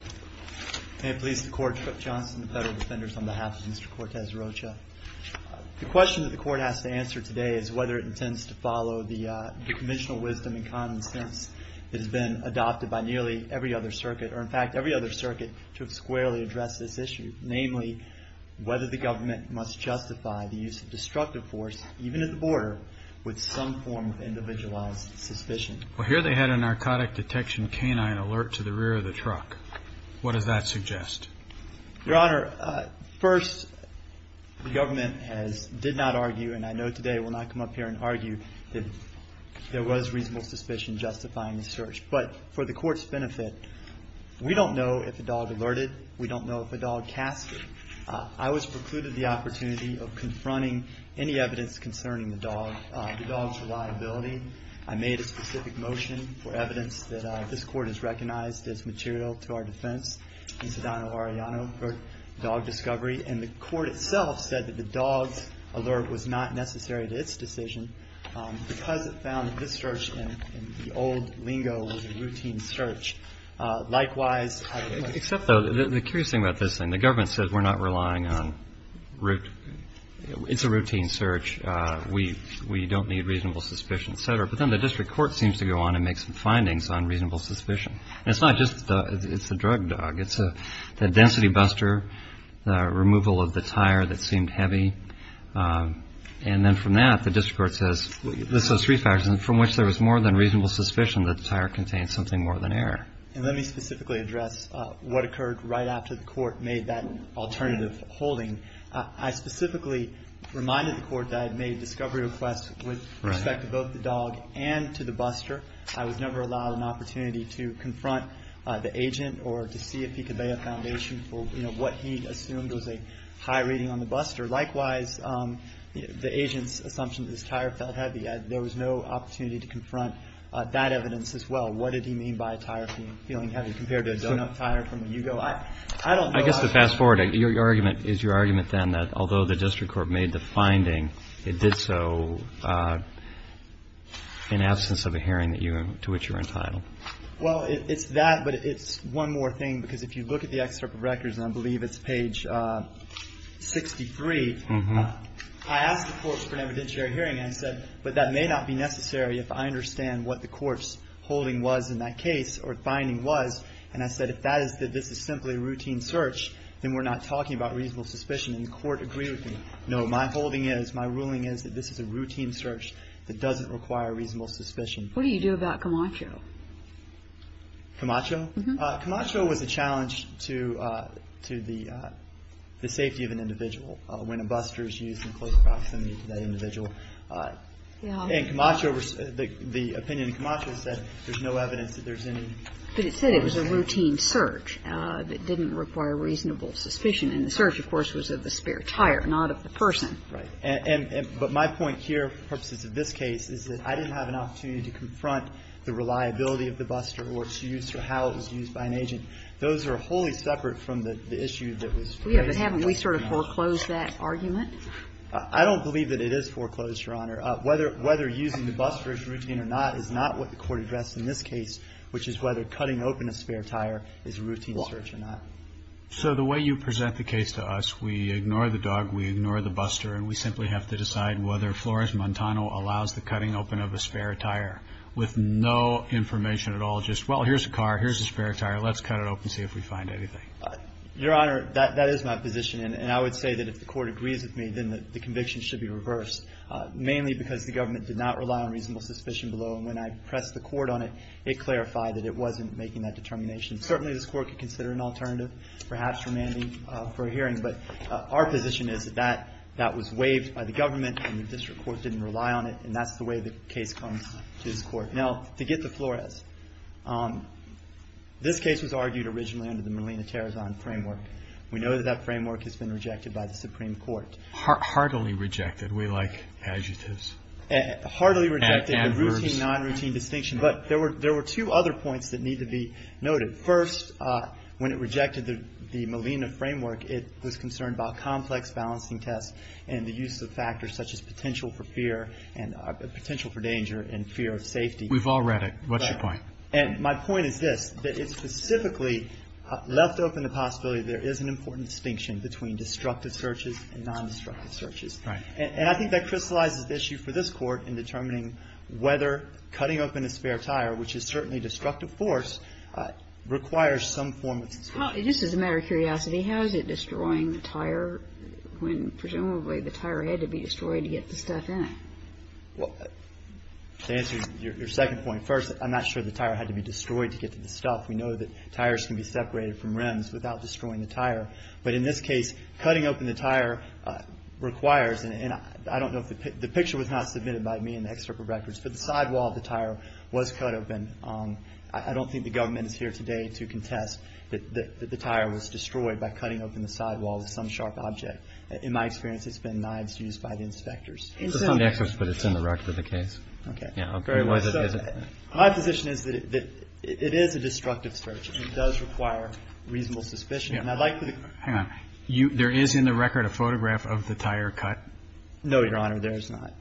The question that the court has to answer today is whether it intends to follow the conventional wisdom and common sense that has been adopted by nearly every other circuit, or in fact every other circuit, to squarely address this issue. Namely, whether the government must justify the use of destructive force, even at the border, with some form of individualized suspicion. Well, here they had a narcotic detection canine alert to the rear of the truck. What does that suggest? Your Honor, first, the government has, did not argue, and I know today will not come up here and argue, that there was reasonable suspicion justifying the search. But for the court's benefit, we don't know if the dog alerted, we don't know if the dog cast it. I was precluded the opportunity of confronting any evidence concerning the dog, the dog's liability. I made a specific motion for evidence that this Court has recognized as material to our defense in Sedano-Arellano for dog discovery. And the court itself said that the dog's alert was not necessary to its decision, because it found that this search in the old lingo was a routine search. Likewise, I would point to the fact that the dog alert was not necessary to its decision, because it found that this search in the old lingo was a routine search. We don't need reasonable suspicion, et cetera. But then the district court seems to go on and make some findings on reasonable suspicion. And it's not just the, it's the drug dog. It's the density buster, the removal of the tire that seemed heavy. And then from that, the district court says, this is three factors, from which there was more than reasonable suspicion that the tire contained something more than error. And let me specifically address what occurred right after the court made that alternative holding. I specifically reminded the court that I had made a discovery request with respect to both the dog and to the buster. I was never allowed an opportunity to confront the agent or to see if he could lay a foundation for, you know, what he assumed was a high rating on the buster. Likewise, the agent's assumption that this tire felt heavy, there was no opportunity to confront that evidence as well. What did he mean by a tire feeling heavy compared to a done-up tire from a Yugo? I don't know. So fast forward. Your argument is your argument then that although the district court made the finding, it did so in absence of a hearing that you, to which you're entitled. Well, it's that, but it's one more thing. Because if you look at the excerpt of records, and I believe it's page 63, I asked the courts for an evidentiary hearing. And I said, but that may not be necessary if I understand what the court's holding was in that case or finding was. And I said, if that is that this is simply a routine search, then we're not talking about reasonable suspicion. And the court agreed with me. No, my holding is, my ruling is that this is a routine search that doesn't require reasonable suspicion. What do you do about Camacho? Camacho? Camacho was a challenge to the safety of an individual when a buster is used in close proximity to that individual. And Camacho, the opinion of Camacho is that there's no evidence that there's any. But it said it was a routine search that didn't require reasonable suspicion. And the search, of course, was of the spare tire, not of the person. Right. And my point here, for purposes of this case, is that I didn't have an opportunity to confront the reliability of the buster or its use or how it was used by an agent. Those are wholly separate from the issue that was raised in Camacho. Yeah, but haven't we sort of foreclosed that argument? I don't believe that it is foreclosed, Your Honor. Whether using the buster as routine or not is not what the court addressed in this case, which is whether cutting open a spare tire is a routine search or not. So the way you present the case to us, we ignore the dog, we ignore the buster, and we simply have to decide whether Flores Montano allows the cutting open of a spare tire with no information at all, just, well, here's a car, here's a spare tire, let's cut it open, see if we find anything. Your Honor, that is my position. And I would say that if the court agrees with me, then the conviction should be reversed, mainly because the government did not rely on reasonable suspicion below. And when I pressed the court on it, it clarified that it wasn't making that determination. Certainly, this court could consider an alternative, perhaps remanding for a hearing. But our position is that that was waived by the government and the district court didn't rely on it, and that's the way the case comes to this court. Now, to get to Flores, this case was argued originally under the Molina-Terezon framework. We know that that framework has been rejected by the Supreme Court. Hardly rejected. We like adjectives. Hardly rejected. Adverbs. Non-routine distinction. But there were two other points that need to be noted. First, when it rejected the Molina framework, it was concerned about complex balancing tests and the use of factors such as potential for fear and potential for danger and fear of safety. We've all read it. What's your point? And my point is this, that it specifically left open the possibility there is an important distinction between destructive searches and non-destructive searches. Right. And I think that crystallizes the issue for this court in determining whether cutting open a spare tire, which is certainly destructive force, requires some form of search. Just as a matter of curiosity, how is it destroying the tire when presumably the tire had to be destroyed to get the stuff in it? Well, to answer your second point, first, I'm not sure the tire had to be destroyed to get to the stuff. We know that tires can be separated from rims without destroying the tire. But in this case, cutting open the tire requires, and I don't know if the picture was not submitted by me in the excerpt of records, but the sidewall of the tire was cut open. I don't think the government is here today to contest that the tire was destroyed by cutting open the sidewall of some sharp object. In my experience, it's been knives used by the inspectors. It's not in the excerpts, but it's in the record of the case. Okay. Yeah. Okay. So my position is that it is a destructive search and it does require reasonable suspicion. And I'd like to... Hang on. There is in the record a photograph of the tire cut? No, Your Honor. There is not.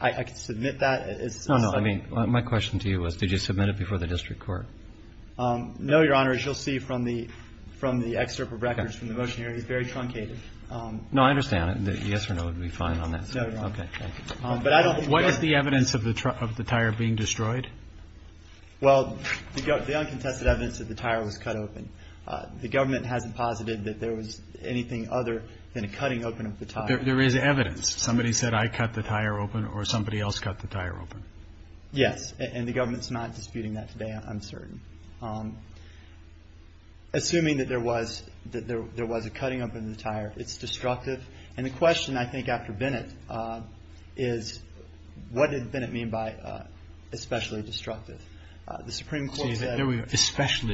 I could submit that as... No, no. I mean, my question to you was, did you submit it before the district court? No, Your Honor. As you'll see from the excerpt of records, from the motion here, it's very truncated. No, I understand. The yes or no would be fine on that. No, Your Honor. Okay. Thank you. But I don't think... What is the evidence of the tire being destroyed? Well, the uncontested evidence that the tire was cut open. The government hasn't posited that there was anything other than a cutting open of the tire. There is evidence. Somebody said, I cut the tire open or somebody else cut the tire open. Yes. And the government's not disputing that today, I'm certain. Assuming that there was a cutting open of the tire, it's destructive. And the question, I think, after Bennett is, what did Bennett mean by especially destructive? The Supreme Court said... And I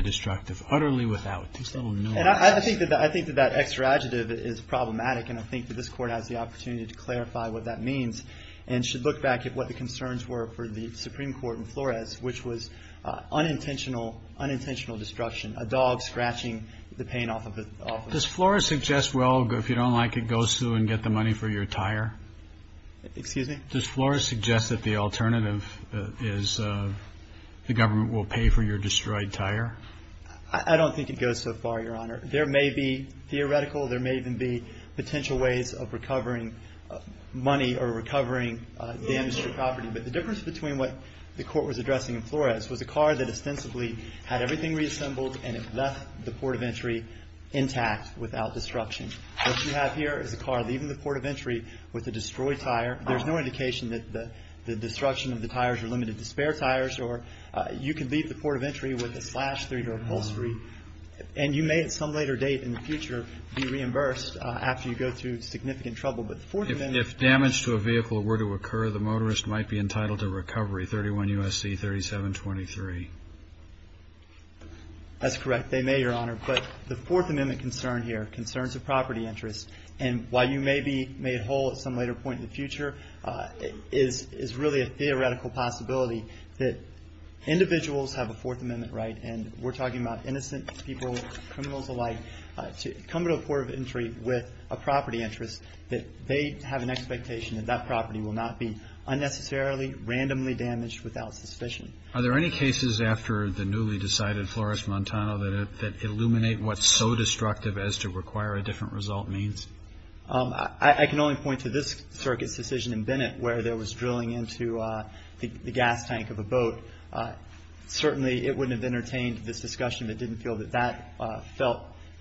think that that extra adjective is problematic. And I think that this court has the opportunity to clarify what that means. And should look back at what the concerns were for the Supreme Court in Flores, which was unintentional destruction. A dog scratching the paint off of it. Does Flores suggest, well, if you don't like it, go sue and get the money for your tire? Excuse me? Does Flores suggest that the alternative is the government will pay for your destroyed tire? I don't think it goes so far, Your Honor. There may be theoretical, there may even be potential ways of recovering money or recovering damaged property. But the difference between what the court was addressing in Flores was a car that ostensibly had everything reassembled and it left the port of entry intact without destruction. What you have here is a car leaving the port of entry with a destroyed tire. There's no indication that the destruction of the tires were limited to spare tires. Or you can leave the port of entry with a slash through your upholstery. And you may at some later date in the future be reimbursed after you go through significant trouble. But the Fourth Amendment. If damage to a vehicle were to occur, the motorist might be entitled to recovery. 31 U.S.C. 3723. That's correct. They may, Your Honor. But the Fourth Amendment concern here, concerns of property interest. And while you may be made whole at some later point in the future, is really a theoretical possibility that individuals have a Fourth Amendment right. And we're talking about innocent people, criminals alike, to come to a port of entry with a property interest that they have an expectation that that property will not be unnecessarily, randomly damaged without suspicion. Are there any cases after the newly decided Flores-Montano that illuminate what's so destructive as to require a different result means? I can only point to this circuit's decision in Bennett where there was drilling into the gas tank of a boat. Certainly it wouldn't have entertained this discussion if it didn't feel that that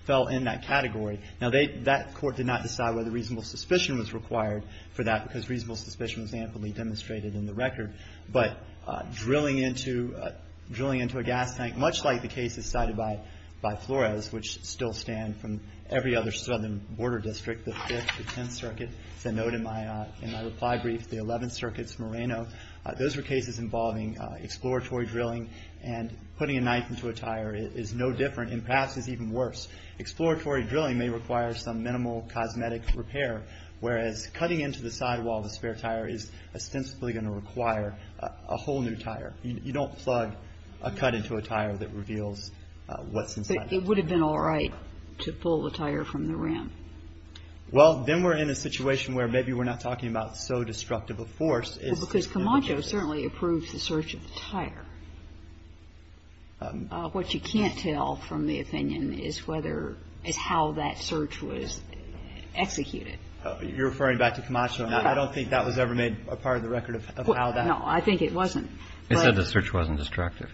fell in that category. Now that court did not decide whether reasonable suspicion was required for that because reasonable suspicion was amply demonstrated in the record. But drilling into a gas tank, much like the cases cited by Flores, which still stand from every other southern border district, the 5th, the 10th Circuit. It's a note in my reply brief, the 11th Circuit's Moreno. Those were cases involving exploratory drilling and putting a knife into a tire is no different and perhaps is even worse. Exploratory drilling may require some minimal cosmetic repair, whereas cutting into the sidewall of a spare tire is ostensibly going to require a whole new tire. You don't plug a cut into a tire that reveals what's inside the tire. It would have been all right to pull the tire from the rim. Well, then we're in a situation where maybe we're not talking about so destructive a force is. Because Camacho certainly approved the search of the tire. What you can't tell from the opinion is whether, is how that search was executed. You're referring back to Camacho. Now, I don't think that was ever made a part of the record of how that. No, I think it wasn't. They said the search wasn't destructive.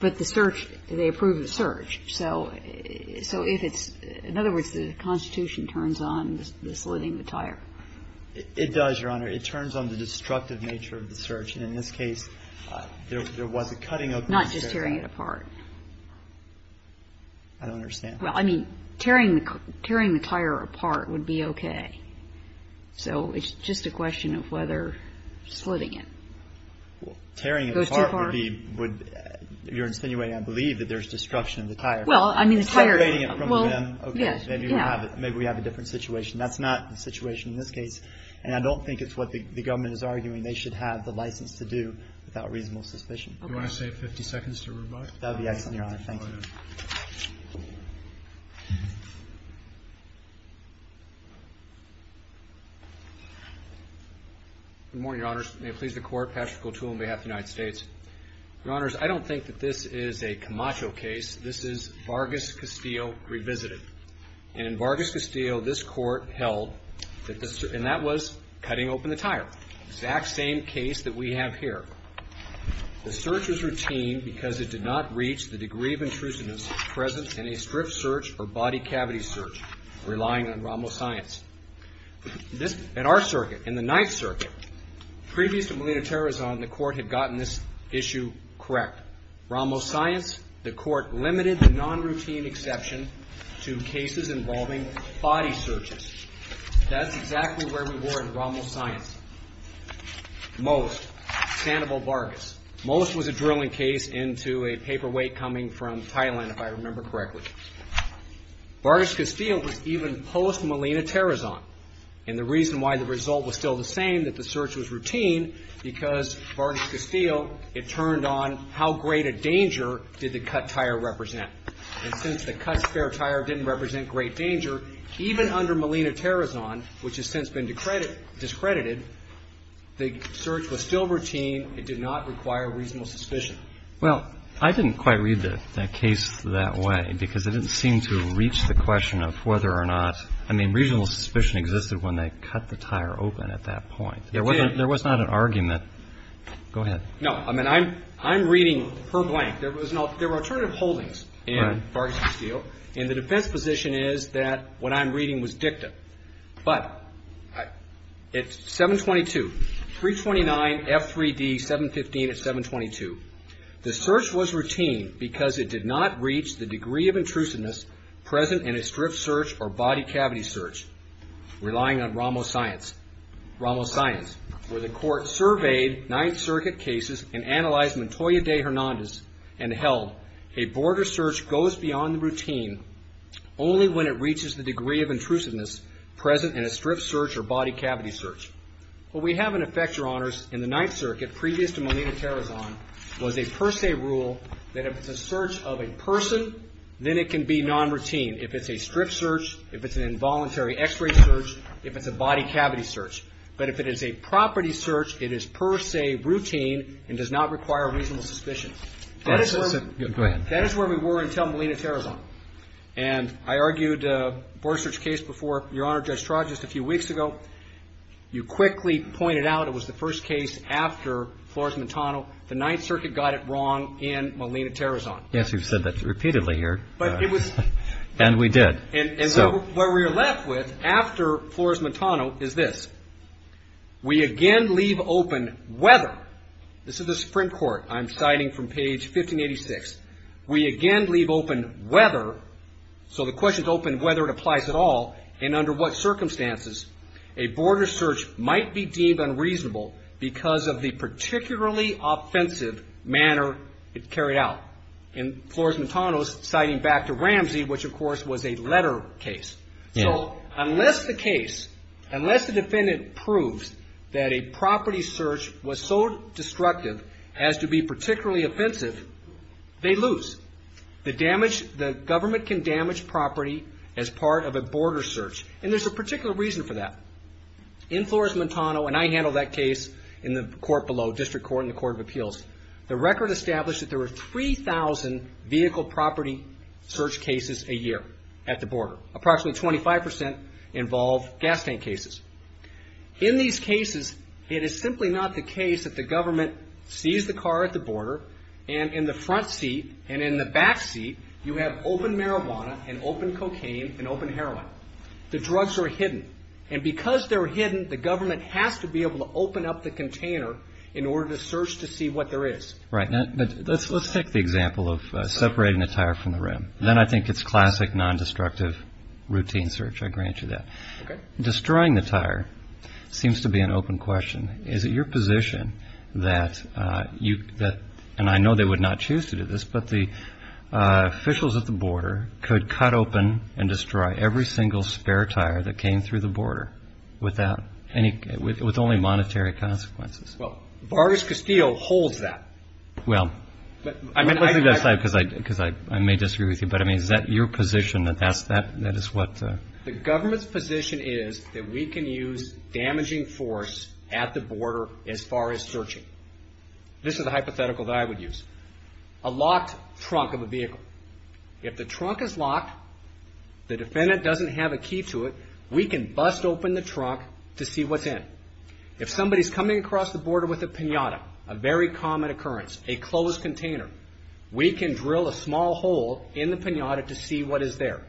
But the search, they approved the search. So, so if it's, in other words, the Constitution turns on the slitting the tire. It does, Your Honor. It turns on the destructive nature of the search. And in this case, there was a cutting of. Not just tearing it apart. I don't understand. Well, I mean, tearing, tearing the tire apart would be okay. So, it's just a question of whether splitting it. Tearing it apart would be, would, you're insinuating, I believe, that there's destruction of the tire. Well, I mean, the tire. Separating it from the rim, okay, maybe we have a different situation. That's not the situation in this case. And I don't think it's what the government is arguing. They should have the license to do without reasonable suspicion. Do you want to save 50 seconds to rebut? That would be excellent, Your Honor. Thank you. Good morning, Your Honors. May it please the Court. Patrick O'Toole on behalf of the United States. Your Honors, I don't think that this is a Camacho case. This is Vargas Castillo revisited. And in Vargas Castillo, this Court held that the, and that was cutting open the tire. Exact same case that we have here. The search was routine because it did not reach the degree of intrusiveness present in a strip search or body cavity search, relying on Rommel science. This, at our circuit, in the Ninth Circuit, previous to Molina Terrazon, the Court had gotten this issue correct. Rommel science, the Court limited the non-routine exception to cases involving body searches. That's exactly where we were in Rommel science. Most, Sandoval Vargas, most was a drilling case into a paperweight coming from Thailand, if I remember correctly. Vargas Castillo was even post Molina Terrazon. And the reason why the result was still the same, that the search was routine, because Vargas Castillo, it turned on how great a danger did the cut tire represent. And since the cut spare tire didn't represent great danger, even under Molina Terrazon, which has since been discredited, the search was still routine. It did not require reasonable suspicion. Well, I didn't quite read the case that way because it didn't seem to reach the question of whether or not, I mean, reasonable suspicion existed when they cut the tire open at that point. It did. There was not an argument. Go ahead. No, I mean, I'm, I'm reading per blank. There was no, there were alternative holdings in Vargas Castillo. And the defense position is that what I'm reading was dicta, but it's 722, 329 F3D 715 at 722. The search was routine because it did not reach the degree of intrusiveness present in a strip search or body cavity search. Relying on Ramos science, Ramos science, where the court surveyed Ninth Circuit cases and analyzed Montoya de Hernandez and held a border search goes beyond the routine only when it reaches the degree of intrusiveness present in a strip search or body cavity search. What we have in effect, your honors, in the Ninth Circuit previous to Molina Terrazon was a per se rule that if it's a search of a person, then it can be non-routine. If it's a strip search, if it's an involuntary x-ray search, if it's a body cavity search, but if it is a property search, it is per se routine and does not require reasonable suspicion. That is where we were until Molina Terrazon. And I argued a border search case before your honor, Judge Traj, just a few weeks ago. You quickly pointed out it was the first case after Flores-Montano. The Ninth Circuit got it wrong in Molina Terrazon. Yes, you've said that repeatedly here. And we did. And what we are left with after Flores-Montano is this. We again leave open whether, this is the Supreme Court, I'm citing from page 1586, we again leave open whether, so the question is open whether it applies at all and under what circumstances a border search might be deemed unreasonable because of the particularly offensive manner it carried out. In Flores-Montano, citing back to Ramsey, which of course was a letter case. So unless the case, unless the defendant proves that a property search was so destructive as to be particularly offensive, they lose. The government can damage property as part of a border search. And there's a particular reason for that. In Flores-Montano, and I handled that case in the court below, District Court and the Court of Appeals. The record established that there were 3,000 vehicle property search cases a year at the border. Approximately 25% involve gas tank cases. In these cases, it is simply not the case that the government sees the car at the border and in the front seat and in the back seat, you have open marijuana and open cocaine and open heroin. The drugs are hidden. And because they're hidden, the government has to be able to open up the container in order to search to see what there is. Right. But let's take the example of separating the tire from the rim. Then I think it's classic non-destructive routine search. I grant you that. Okay. Destroying the tire seems to be an open question. Is it your position that you, and I know they would not choose to do this, but the officials at the border could cut open and destroy every single spare tire that came through the border without any, with only monetary consequences? Well, Vargas Castillo holds that. Well, I mean, let's leave that aside because I, because I, I may disagree with you, but I mean, is that your position that that's, that, that is what? The government's position is that we can use damaging force at the border as far as searching. This is a hypothetical that I would use. A locked trunk of a vehicle. If the trunk is locked, the defendant doesn't have a key to it, we can bust open the trunk to see what's in. If somebody's coming across the border with a pinata, a very common occurrence, a closed container, we can drill a small hole in the pinata to see what is there.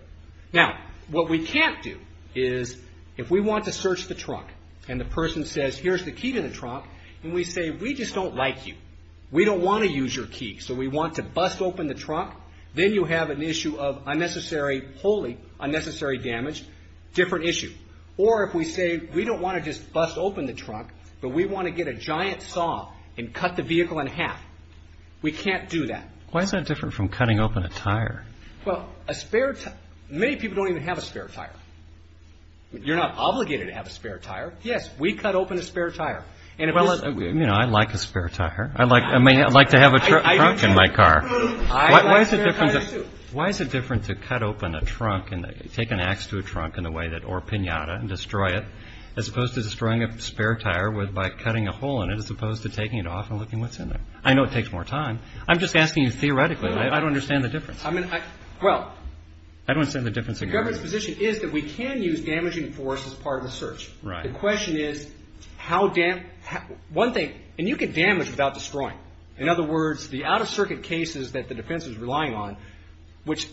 Now, what we can't do is if we want to search the trunk and the person says, here's the key to the trunk, and we say, we just don't like you. We don't want to use your key. So we want to bust open the trunk. Then you have an issue of unnecessary, wholly unnecessary damage, different issue. Or if we say, we don't want to just bust open the trunk, but we want to get a giant saw and cut the vehicle in half. We can't do that. Why is that different from cutting open a tire? Well, a spare, many people don't even have a spare tire. You're not obligated to have a spare tire. Yes, we cut open a spare tire. And you know, I like a spare tire. I like, I mean, I'd like to have a truck in my car. Why is it different to cut open a trunk and take an ax to a trunk in a way that, or a pinata and destroy it, as opposed to destroying a spare tire with, by cutting a hole in it, as opposed to taking it off and looking what's in there. I know it takes more time. I'm just asking you theoretically. I don't understand the difference. I mean, well, I don't understand the difference. The government's position is that we can use damaging force as part of the search. Right. The question is how dam, one thing, and you can damage without destroying. In other words, the out of circuit cases that the defense was relying on, which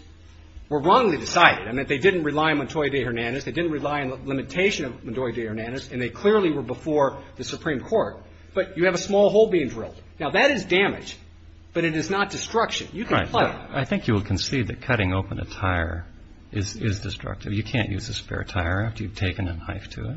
were wrongly decided. I mean, they didn't rely on Montoya de Hernandez. They didn't rely on the limitation of Montoya de Hernandez. And they clearly were before the Supreme Court, but you have a small hole being drilled. Now that is damage, but it is not destruction. You can play. I think you will concede that cutting open a tire is destructive. You can't use a spare tire after you've taken a knife to it.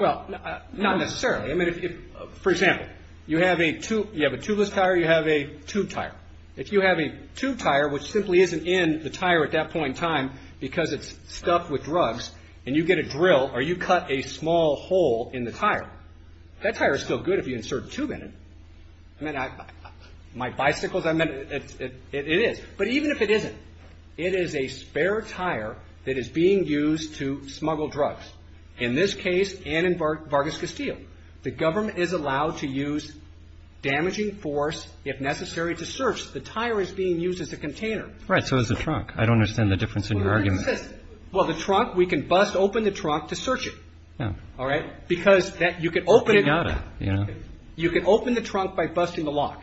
Well, not necessarily. I mean, if, for example, you have a tube, you have a tubeless tire, you have a tube tire. If you have a tube tire, which simply isn't in the tire at that point in time, because it's stuffed with drugs and you get a drill or you cut a small hole in the tire, that tire is still good if you insert a tube in it. I mean, my bicycles, I mean, it is. But even if it isn't, it is a spare tire that is being used to smuggle drugs. In this case and in Vargas Castillo, the government is allowed to use damaging force if necessary to search. The tire is being used as a container. Right. So as a truck. I don't understand the difference in your argument. Well, the trunk, we can bust open the trunk to search it. All right. Because that you can open it. You know, you can open the trunk by busting the lock.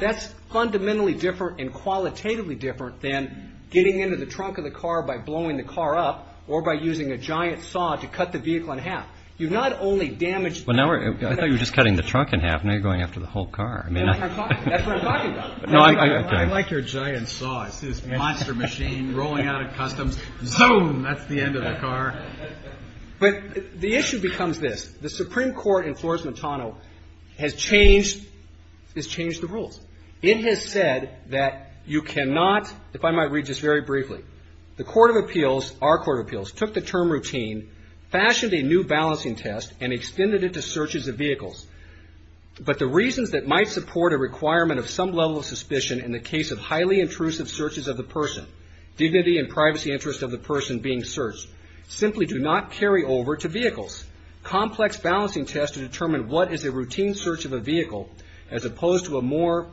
That's fundamentally different and qualitatively different than getting into the trunk of the car by blowing the car up or by using a giant saw to cut the vehicle in half. You've not only damaged. Well, now I thought you were just cutting the trunk in half. Now you're going after the whole car. I mean, that's what I'm talking about. No, I like your giant saw. It's this monster machine rolling out of customs. Zoom. That's the end of the car. But the issue becomes this. The Supreme Court in Flores-Montano has changed, has changed the rules. It has said that you cannot, if I might read this very briefly, the Court of Appeals, our Court of Appeals, took the term routine, fashioned a new balancing test and extended it to searches of vehicles. But the reasons that might support a requirement of some level of suspicion in the case of highly intrusive searches of the person, dignity and privacy interests of the person being searched, simply do not carry over to vehicles. Complex balancing tests to determine what is a routine search of a vehicle as opposed to a more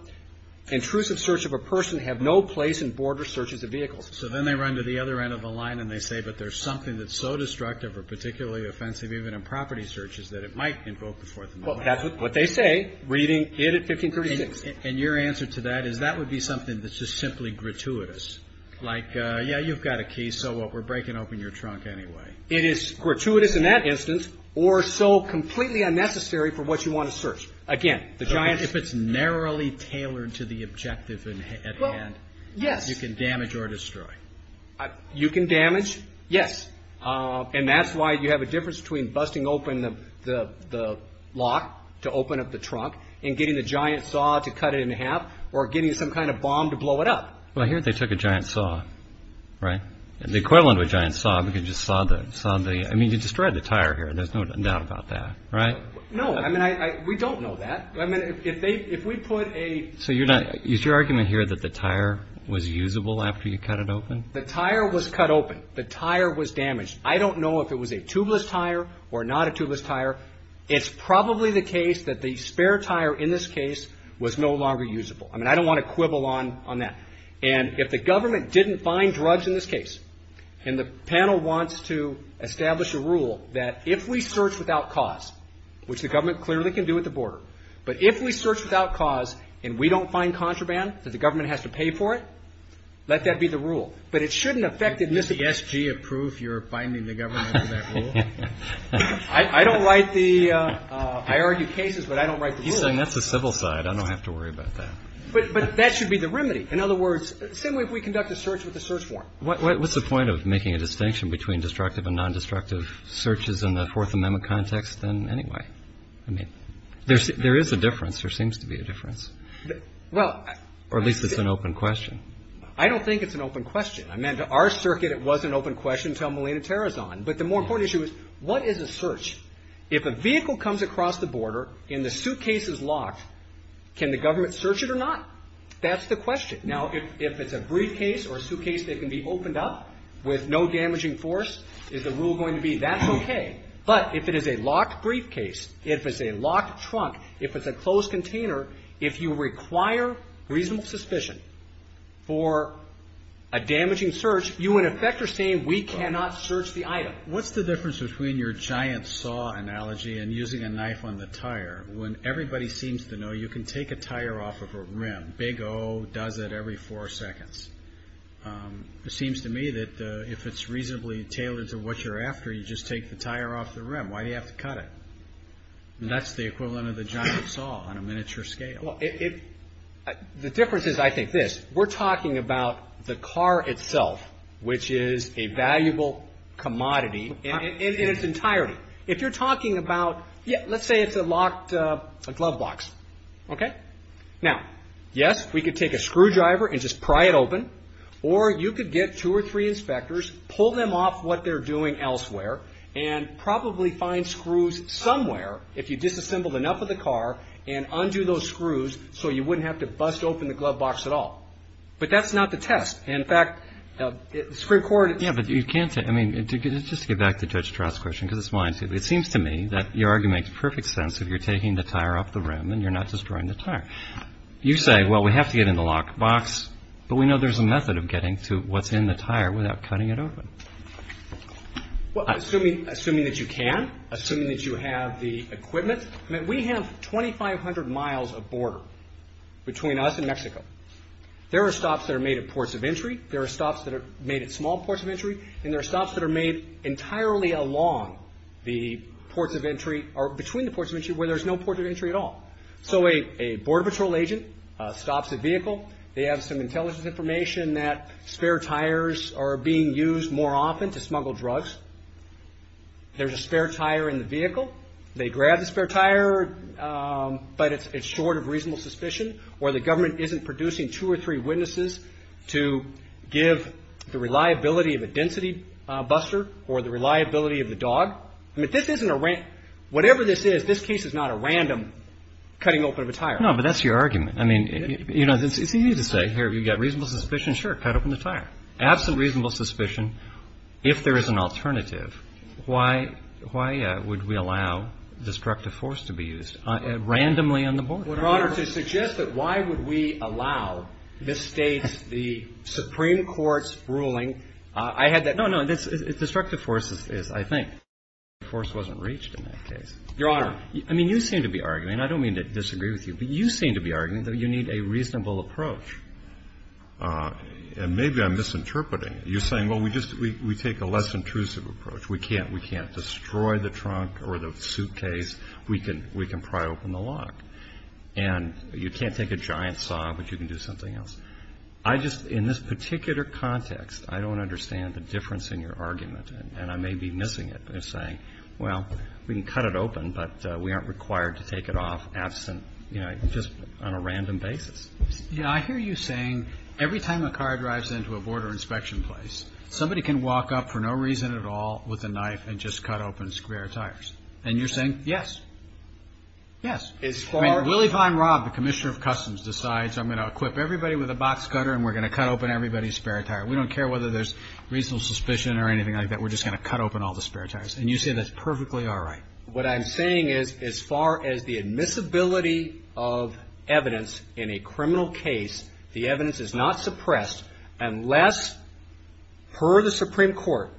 intrusive search of a person have no place in border searches of vehicles. So then they run to the other end of the line and they say, but there's something that's so destructive or particularly offensive, even in property searches, that it might invoke the Fourth Amendment. Well, that's what they say, reading it at 1536. And your answer to that is that would be something that's just simply gratuitous, like, yeah, you've got a key. So what? We're breaking open your trunk anyway. It is gratuitous in that instance or so completely unnecessary for what you want to search. Again, if it's narrowly tailored to the objective at hand, you can damage or destroy. You can damage. Yes. And that's why you have a difference between busting open the lock to open up the trunk and getting the giant saw to cut it in half or getting some kind of bomb to blow it up. Well, here they took a giant saw, right? The equivalent of a giant saw, you can just saw the, I mean, you destroyed the tire here and there's no doubt about that, right? No, I mean, I, we don't know that. I mean, if they, if we put a. So you're not, is your argument here that the tire was usable after you cut it open? The tire was cut open. The tire was damaged. I don't know if it was a tubeless tire or not a tubeless tire. It's probably the case that the spare tire in this case was no longer usable. I mean, I don't want to quibble on, on that. And if the government didn't find drugs in this case and the panel wants to establish a rule that if we search without cause, which the government clearly can do at the border, but if we search without cause and we don't find contraband that the government has to pay for it, let that be the rule. But it shouldn't affect it. Mr. Yes. G approved. You're finding the government. I don't like the, uh, uh, I argued cases, but I don't write the civil side. I don't have to worry about that, but that should be the remedy. In other words, simply if we conduct a search with the search form, what's the point of making a distinction between destructive and non-destructive searches in the fourth amendment context? Then anyway, I mean, there's, there is a difference. There seems to be a difference. Well, or at least it's an open question. I don't think it's an open question. I meant to our circuit. It wasn't open question. Tell Melina Tara's on, but the more important issue is what is a search? If a vehicle comes across the border in the suitcases locked, can the government search it or not? That's the question. Now, if, if it's a briefcase or a suitcase that can be opened up with no damaging force is the rule going to be that's okay. But if it is a locked briefcase, if it's a locked trunk, if it's a closed container, if you require reasonable suspicion for a damaging search, you in effect are saying we cannot search the item. What's the difference between your giant saw analogy and using a knife on the tire? When everybody seems to know you can take a tire off of a rim, big O does it every four seconds. It seems to me that if it's reasonably tailored to what you're after, you just take the tire off the rim. Why do you have to cut it? And that's the equivalent of the giant saw on a miniature scale. Well, if the difference is, I think this, we're talking about the car itself, which is a valuable commodity in its entirety. If you're talking about, yeah, let's say it's a locked glove box. Okay. Now, yes, we could take a screwdriver and just pry it open, or you could get two or three inspectors, pull them off what they're doing elsewhere, and probably find screws somewhere if you disassembled enough of the car and undo those screws so you wouldn't have to bust open the glove box at all. But that's not the test. In fact, the Supreme Court, you can't, I mean, just to get back to Judge Stroud's question, because it's mine too, it seems to me that your argument makes perfect sense if you're taking the tire off the rim and you're not destroying the tire. You say, well, we have to get in the lock box, but we know there's a method of getting to what's in the tire without cutting it open. Well, assuming that you can, assuming that you have the equipment, I mean, we have 2,500 miles of border between us and Mexico. There are stops that are made at ports of entry, there are stops that are made at small ports of entry, and there are stops that are made entirely along the ports of entry or between the ports of entry where there's no ports of entry at all. So a border patrol agent stops a vehicle, they have some intelligence information that spare tires are being used more often to smuggle drugs. There's a spare tire in the vehicle, they grab the spare tire, but it's short of reasonable suspicion, or the government isn't producing two or three witnesses to give the reliability of a density buster or the reliability of the dog. I mean, this isn't a random, whatever this is, this case is not a random cutting open of a tire. No, but that's your argument. I mean, you know, it's easy to say, here, you've got reasonable suspicion, sure, cut open the tire. Absent reasonable suspicion, if there is an alternative, why would we allow destructive force to be used randomly on the border? Your Honor, to suggest that why would we allow the state, the Supreme Court's ruling, I had that. No, no, destructive force is, I think. Destructive force wasn't reached in that case. Your Honor. I mean, you seem to be arguing, and I don't mean to disagree with you, but you seem to be arguing that you need a reasonable approach. And maybe I'm misinterpreting it. You're saying, well, we just, we take a less intrusive approach. We can't, we can't destroy the trunk or the suitcase. We can pry open the lock. And you can't take a giant saw, but you can do something else. I just, in this particular context, I don't understand the difference in your argument, and I may be missing it. I'm just saying, well, we can cut it open, but we aren't required to take it off absent, you know, just on a random basis. You know, I hear you saying every time a car drives into a border inspection place, somebody can walk up for no reason at all with a knife and just cut open square tires. And you're saying, yes, yes, it's really fine. Rob, the Commissioner of Customs, decides I'm going to equip everybody with a box cutter and we're going to cut open everybody's spare tire. We don't care whether there's reasonable suspicion or anything like that. We're just going to cut open all the spare tires. And you say that's perfectly all right. What I'm saying is, as far as the admissibility of evidence in a criminal case, the evidence is not suppressed unless, per the Supreme Court,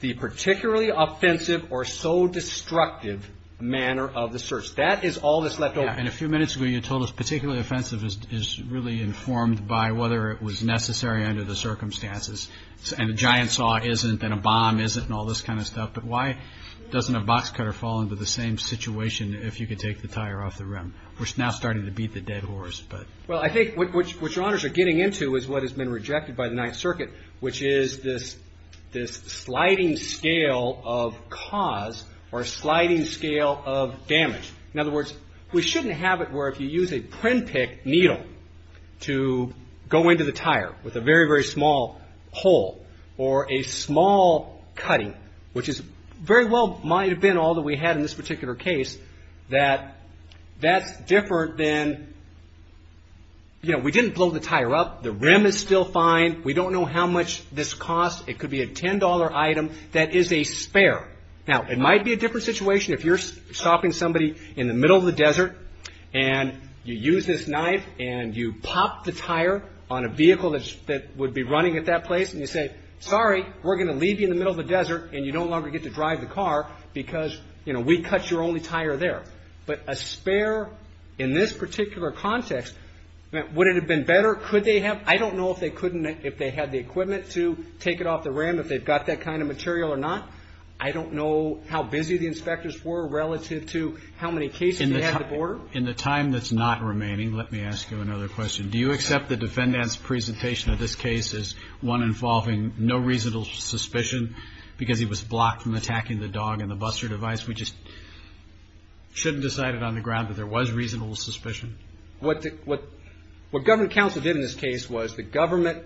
the particularly offensive or so destructive manner of the search. That is all that's left over. And a few minutes ago, you told us particularly offensive is really informed by whether it was necessary under the circumstances. And a giant saw isn't, and a bomb isn't, and all this kind of stuff. But why doesn't a box cutter fall into the same situation if you could take the tire off the rim? We're now starting to beat the dead horse. Well, I think what your honors are getting into is what has been rejected by the Ninth Circuit, which is this sliding scale of cause or sliding scale of damage. In other words, we shouldn't have it where if you use a print pick needle to go into the tire with a very, very small hole or a small cutting, which is very well might have been all that we had in this particular case, that that's different than, you know, we didn't blow the tire up. The rim is still fine. We don't know how much this costs. It could be a $10 item that is a spare. Now, it might be a different situation if you're stopping somebody in the middle of the desert and you use this knife and you pop the tire on a vehicle that would be running at that place and you say, sorry, we're going to leave you in the middle of the desert and you don't longer get to drive the car because, you know, we cut your only tire there. But a spare in this particular context, would it have been better? Could they have? I don't know if they couldn't, if they had the equipment to take it off the rim, if they've got that kind of material or not. I don't know how busy the inspectors were relative to how many cases they had at the border. In the time that's not remaining, let me ask you another question. Do you accept the defendant's presentation of this case as one involving no reasonable suspicion because he was blocked from attacking the dog and the buster device? We just shouldn't decide it on the ground that there was reasonable suspicion. What government counsel did in this case was the government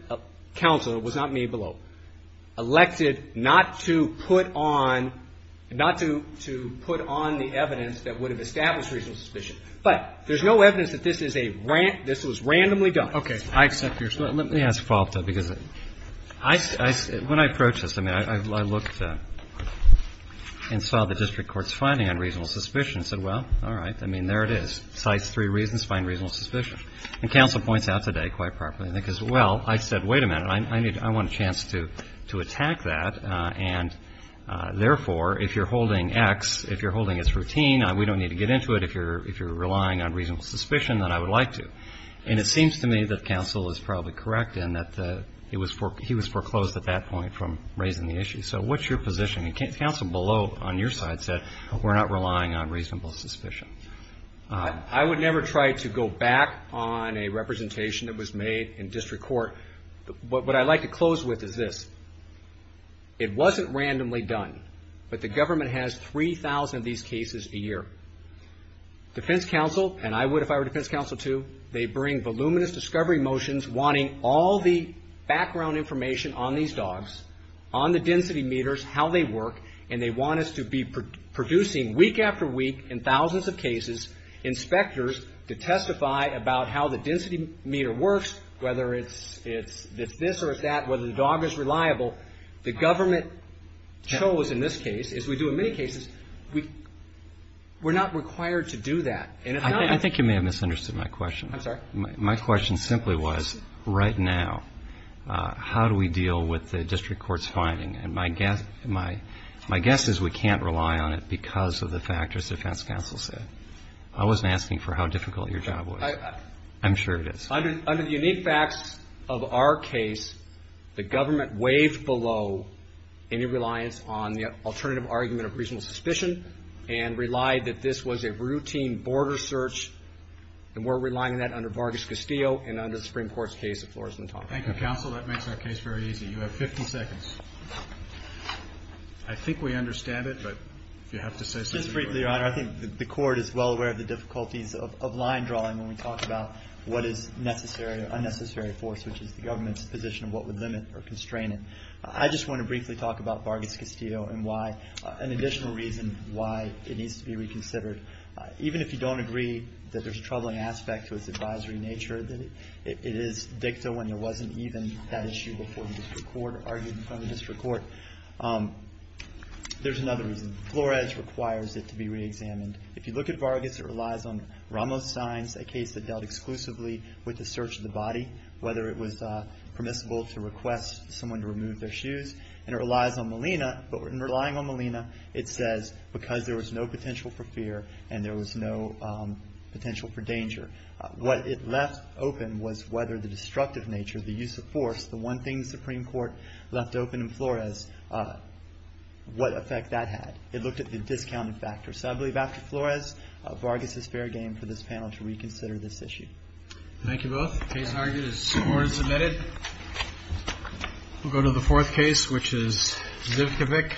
counsel, it was not me below, elected not to put on the evidence that would have established reasonable suspicion. But there's no evidence that this was randomly done. Okay. I accept your statement. Let me ask a follow-up though, because when I approached this, I mean, I looked and saw the district court's finding on reasonable suspicion and said, well, all right, I mean, there it is. Cites three reasons, find reasonable suspicion. And counsel points out today quite properly, I think, is, well, I said, wait a minute, I need, I want a chance to attack that. And therefore, if you're holding X, if you're holding it's routine, we don't need to get into it if you're relying on reasonable suspicion, then I would like to. And it seems to me that counsel is probably correct in that he was foreclosed at that point from raising the issue. So what's your position? And counsel below on your side said, we're not relying on reasonable suspicion. I would never try to go back on a representation that was made in district court. What I'd like to close with is this. It wasn't randomly done, but the government has 3,000 of these cases a year. Defense counsel, and I would if I were defense counsel too, they bring voluminous discovery motions wanting all the background information on these dogs, on the density meters, how they work. And they want us to be producing week after week, in thousands of cases, inspectors to testify about how the density meter works, whether it's this or that, whether the dog is reliable. The government chose in this case, as we do in many cases, we're not required to do that. And I think you may have misunderstood my question. I'm sorry. My question simply was, right now, how do we deal with the district court's finding? And my guess is we can't rely on it because of the factors defense counsel said. I wasn't asking for how difficult your job was. I'm sure it is. Under the unique facts of our case, the government weighed below any reliance on the alternative argument of reasonable suspicion and relied that this was a routine border search. And we're relying on that under Vargas Castillo and under the Supreme Court's case of Flores-Montalvo. Thank you, counsel. That makes our case very easy. You have 50 seconds. I think we understand it, but if you have to say something. Just briefly, Your Honor, I think the court is well aware of the difficulties of line drawing when we talk about what is necessary or unnecessary force, which is the government's position of what would limit or constrain it. I just want to briefly talk about Vargas Castillo and why, an additional reason why it needs to be reconsidered. Even if you don't agree that there's a troubling aspect to its advisory nature, that it is dicta when there wasn't even that issue before the district court argued in front of the district court. There's another reason. Flores requires it to be reexamined. If you look at Vargas, it relies on Ramos-Stein's, a case that dealt exclusively with the search of the body, whether it was permissible to request someone to remove their shoes. And it relies on Molina, but in relying on Molina, it says because there was no potential for fear and there was no potential for danger. What it left open was whether the destructive nature, the use of force, the one thing the Supreme Court left open in Flores, what effect that had. It looked at the discounted factor. So I believe after Flores, Vargas is fair game for this panel to reconsider this issue. Thank you both. Case argued, the score is admitted. We'll go to the fourth case, which is Zivkovic.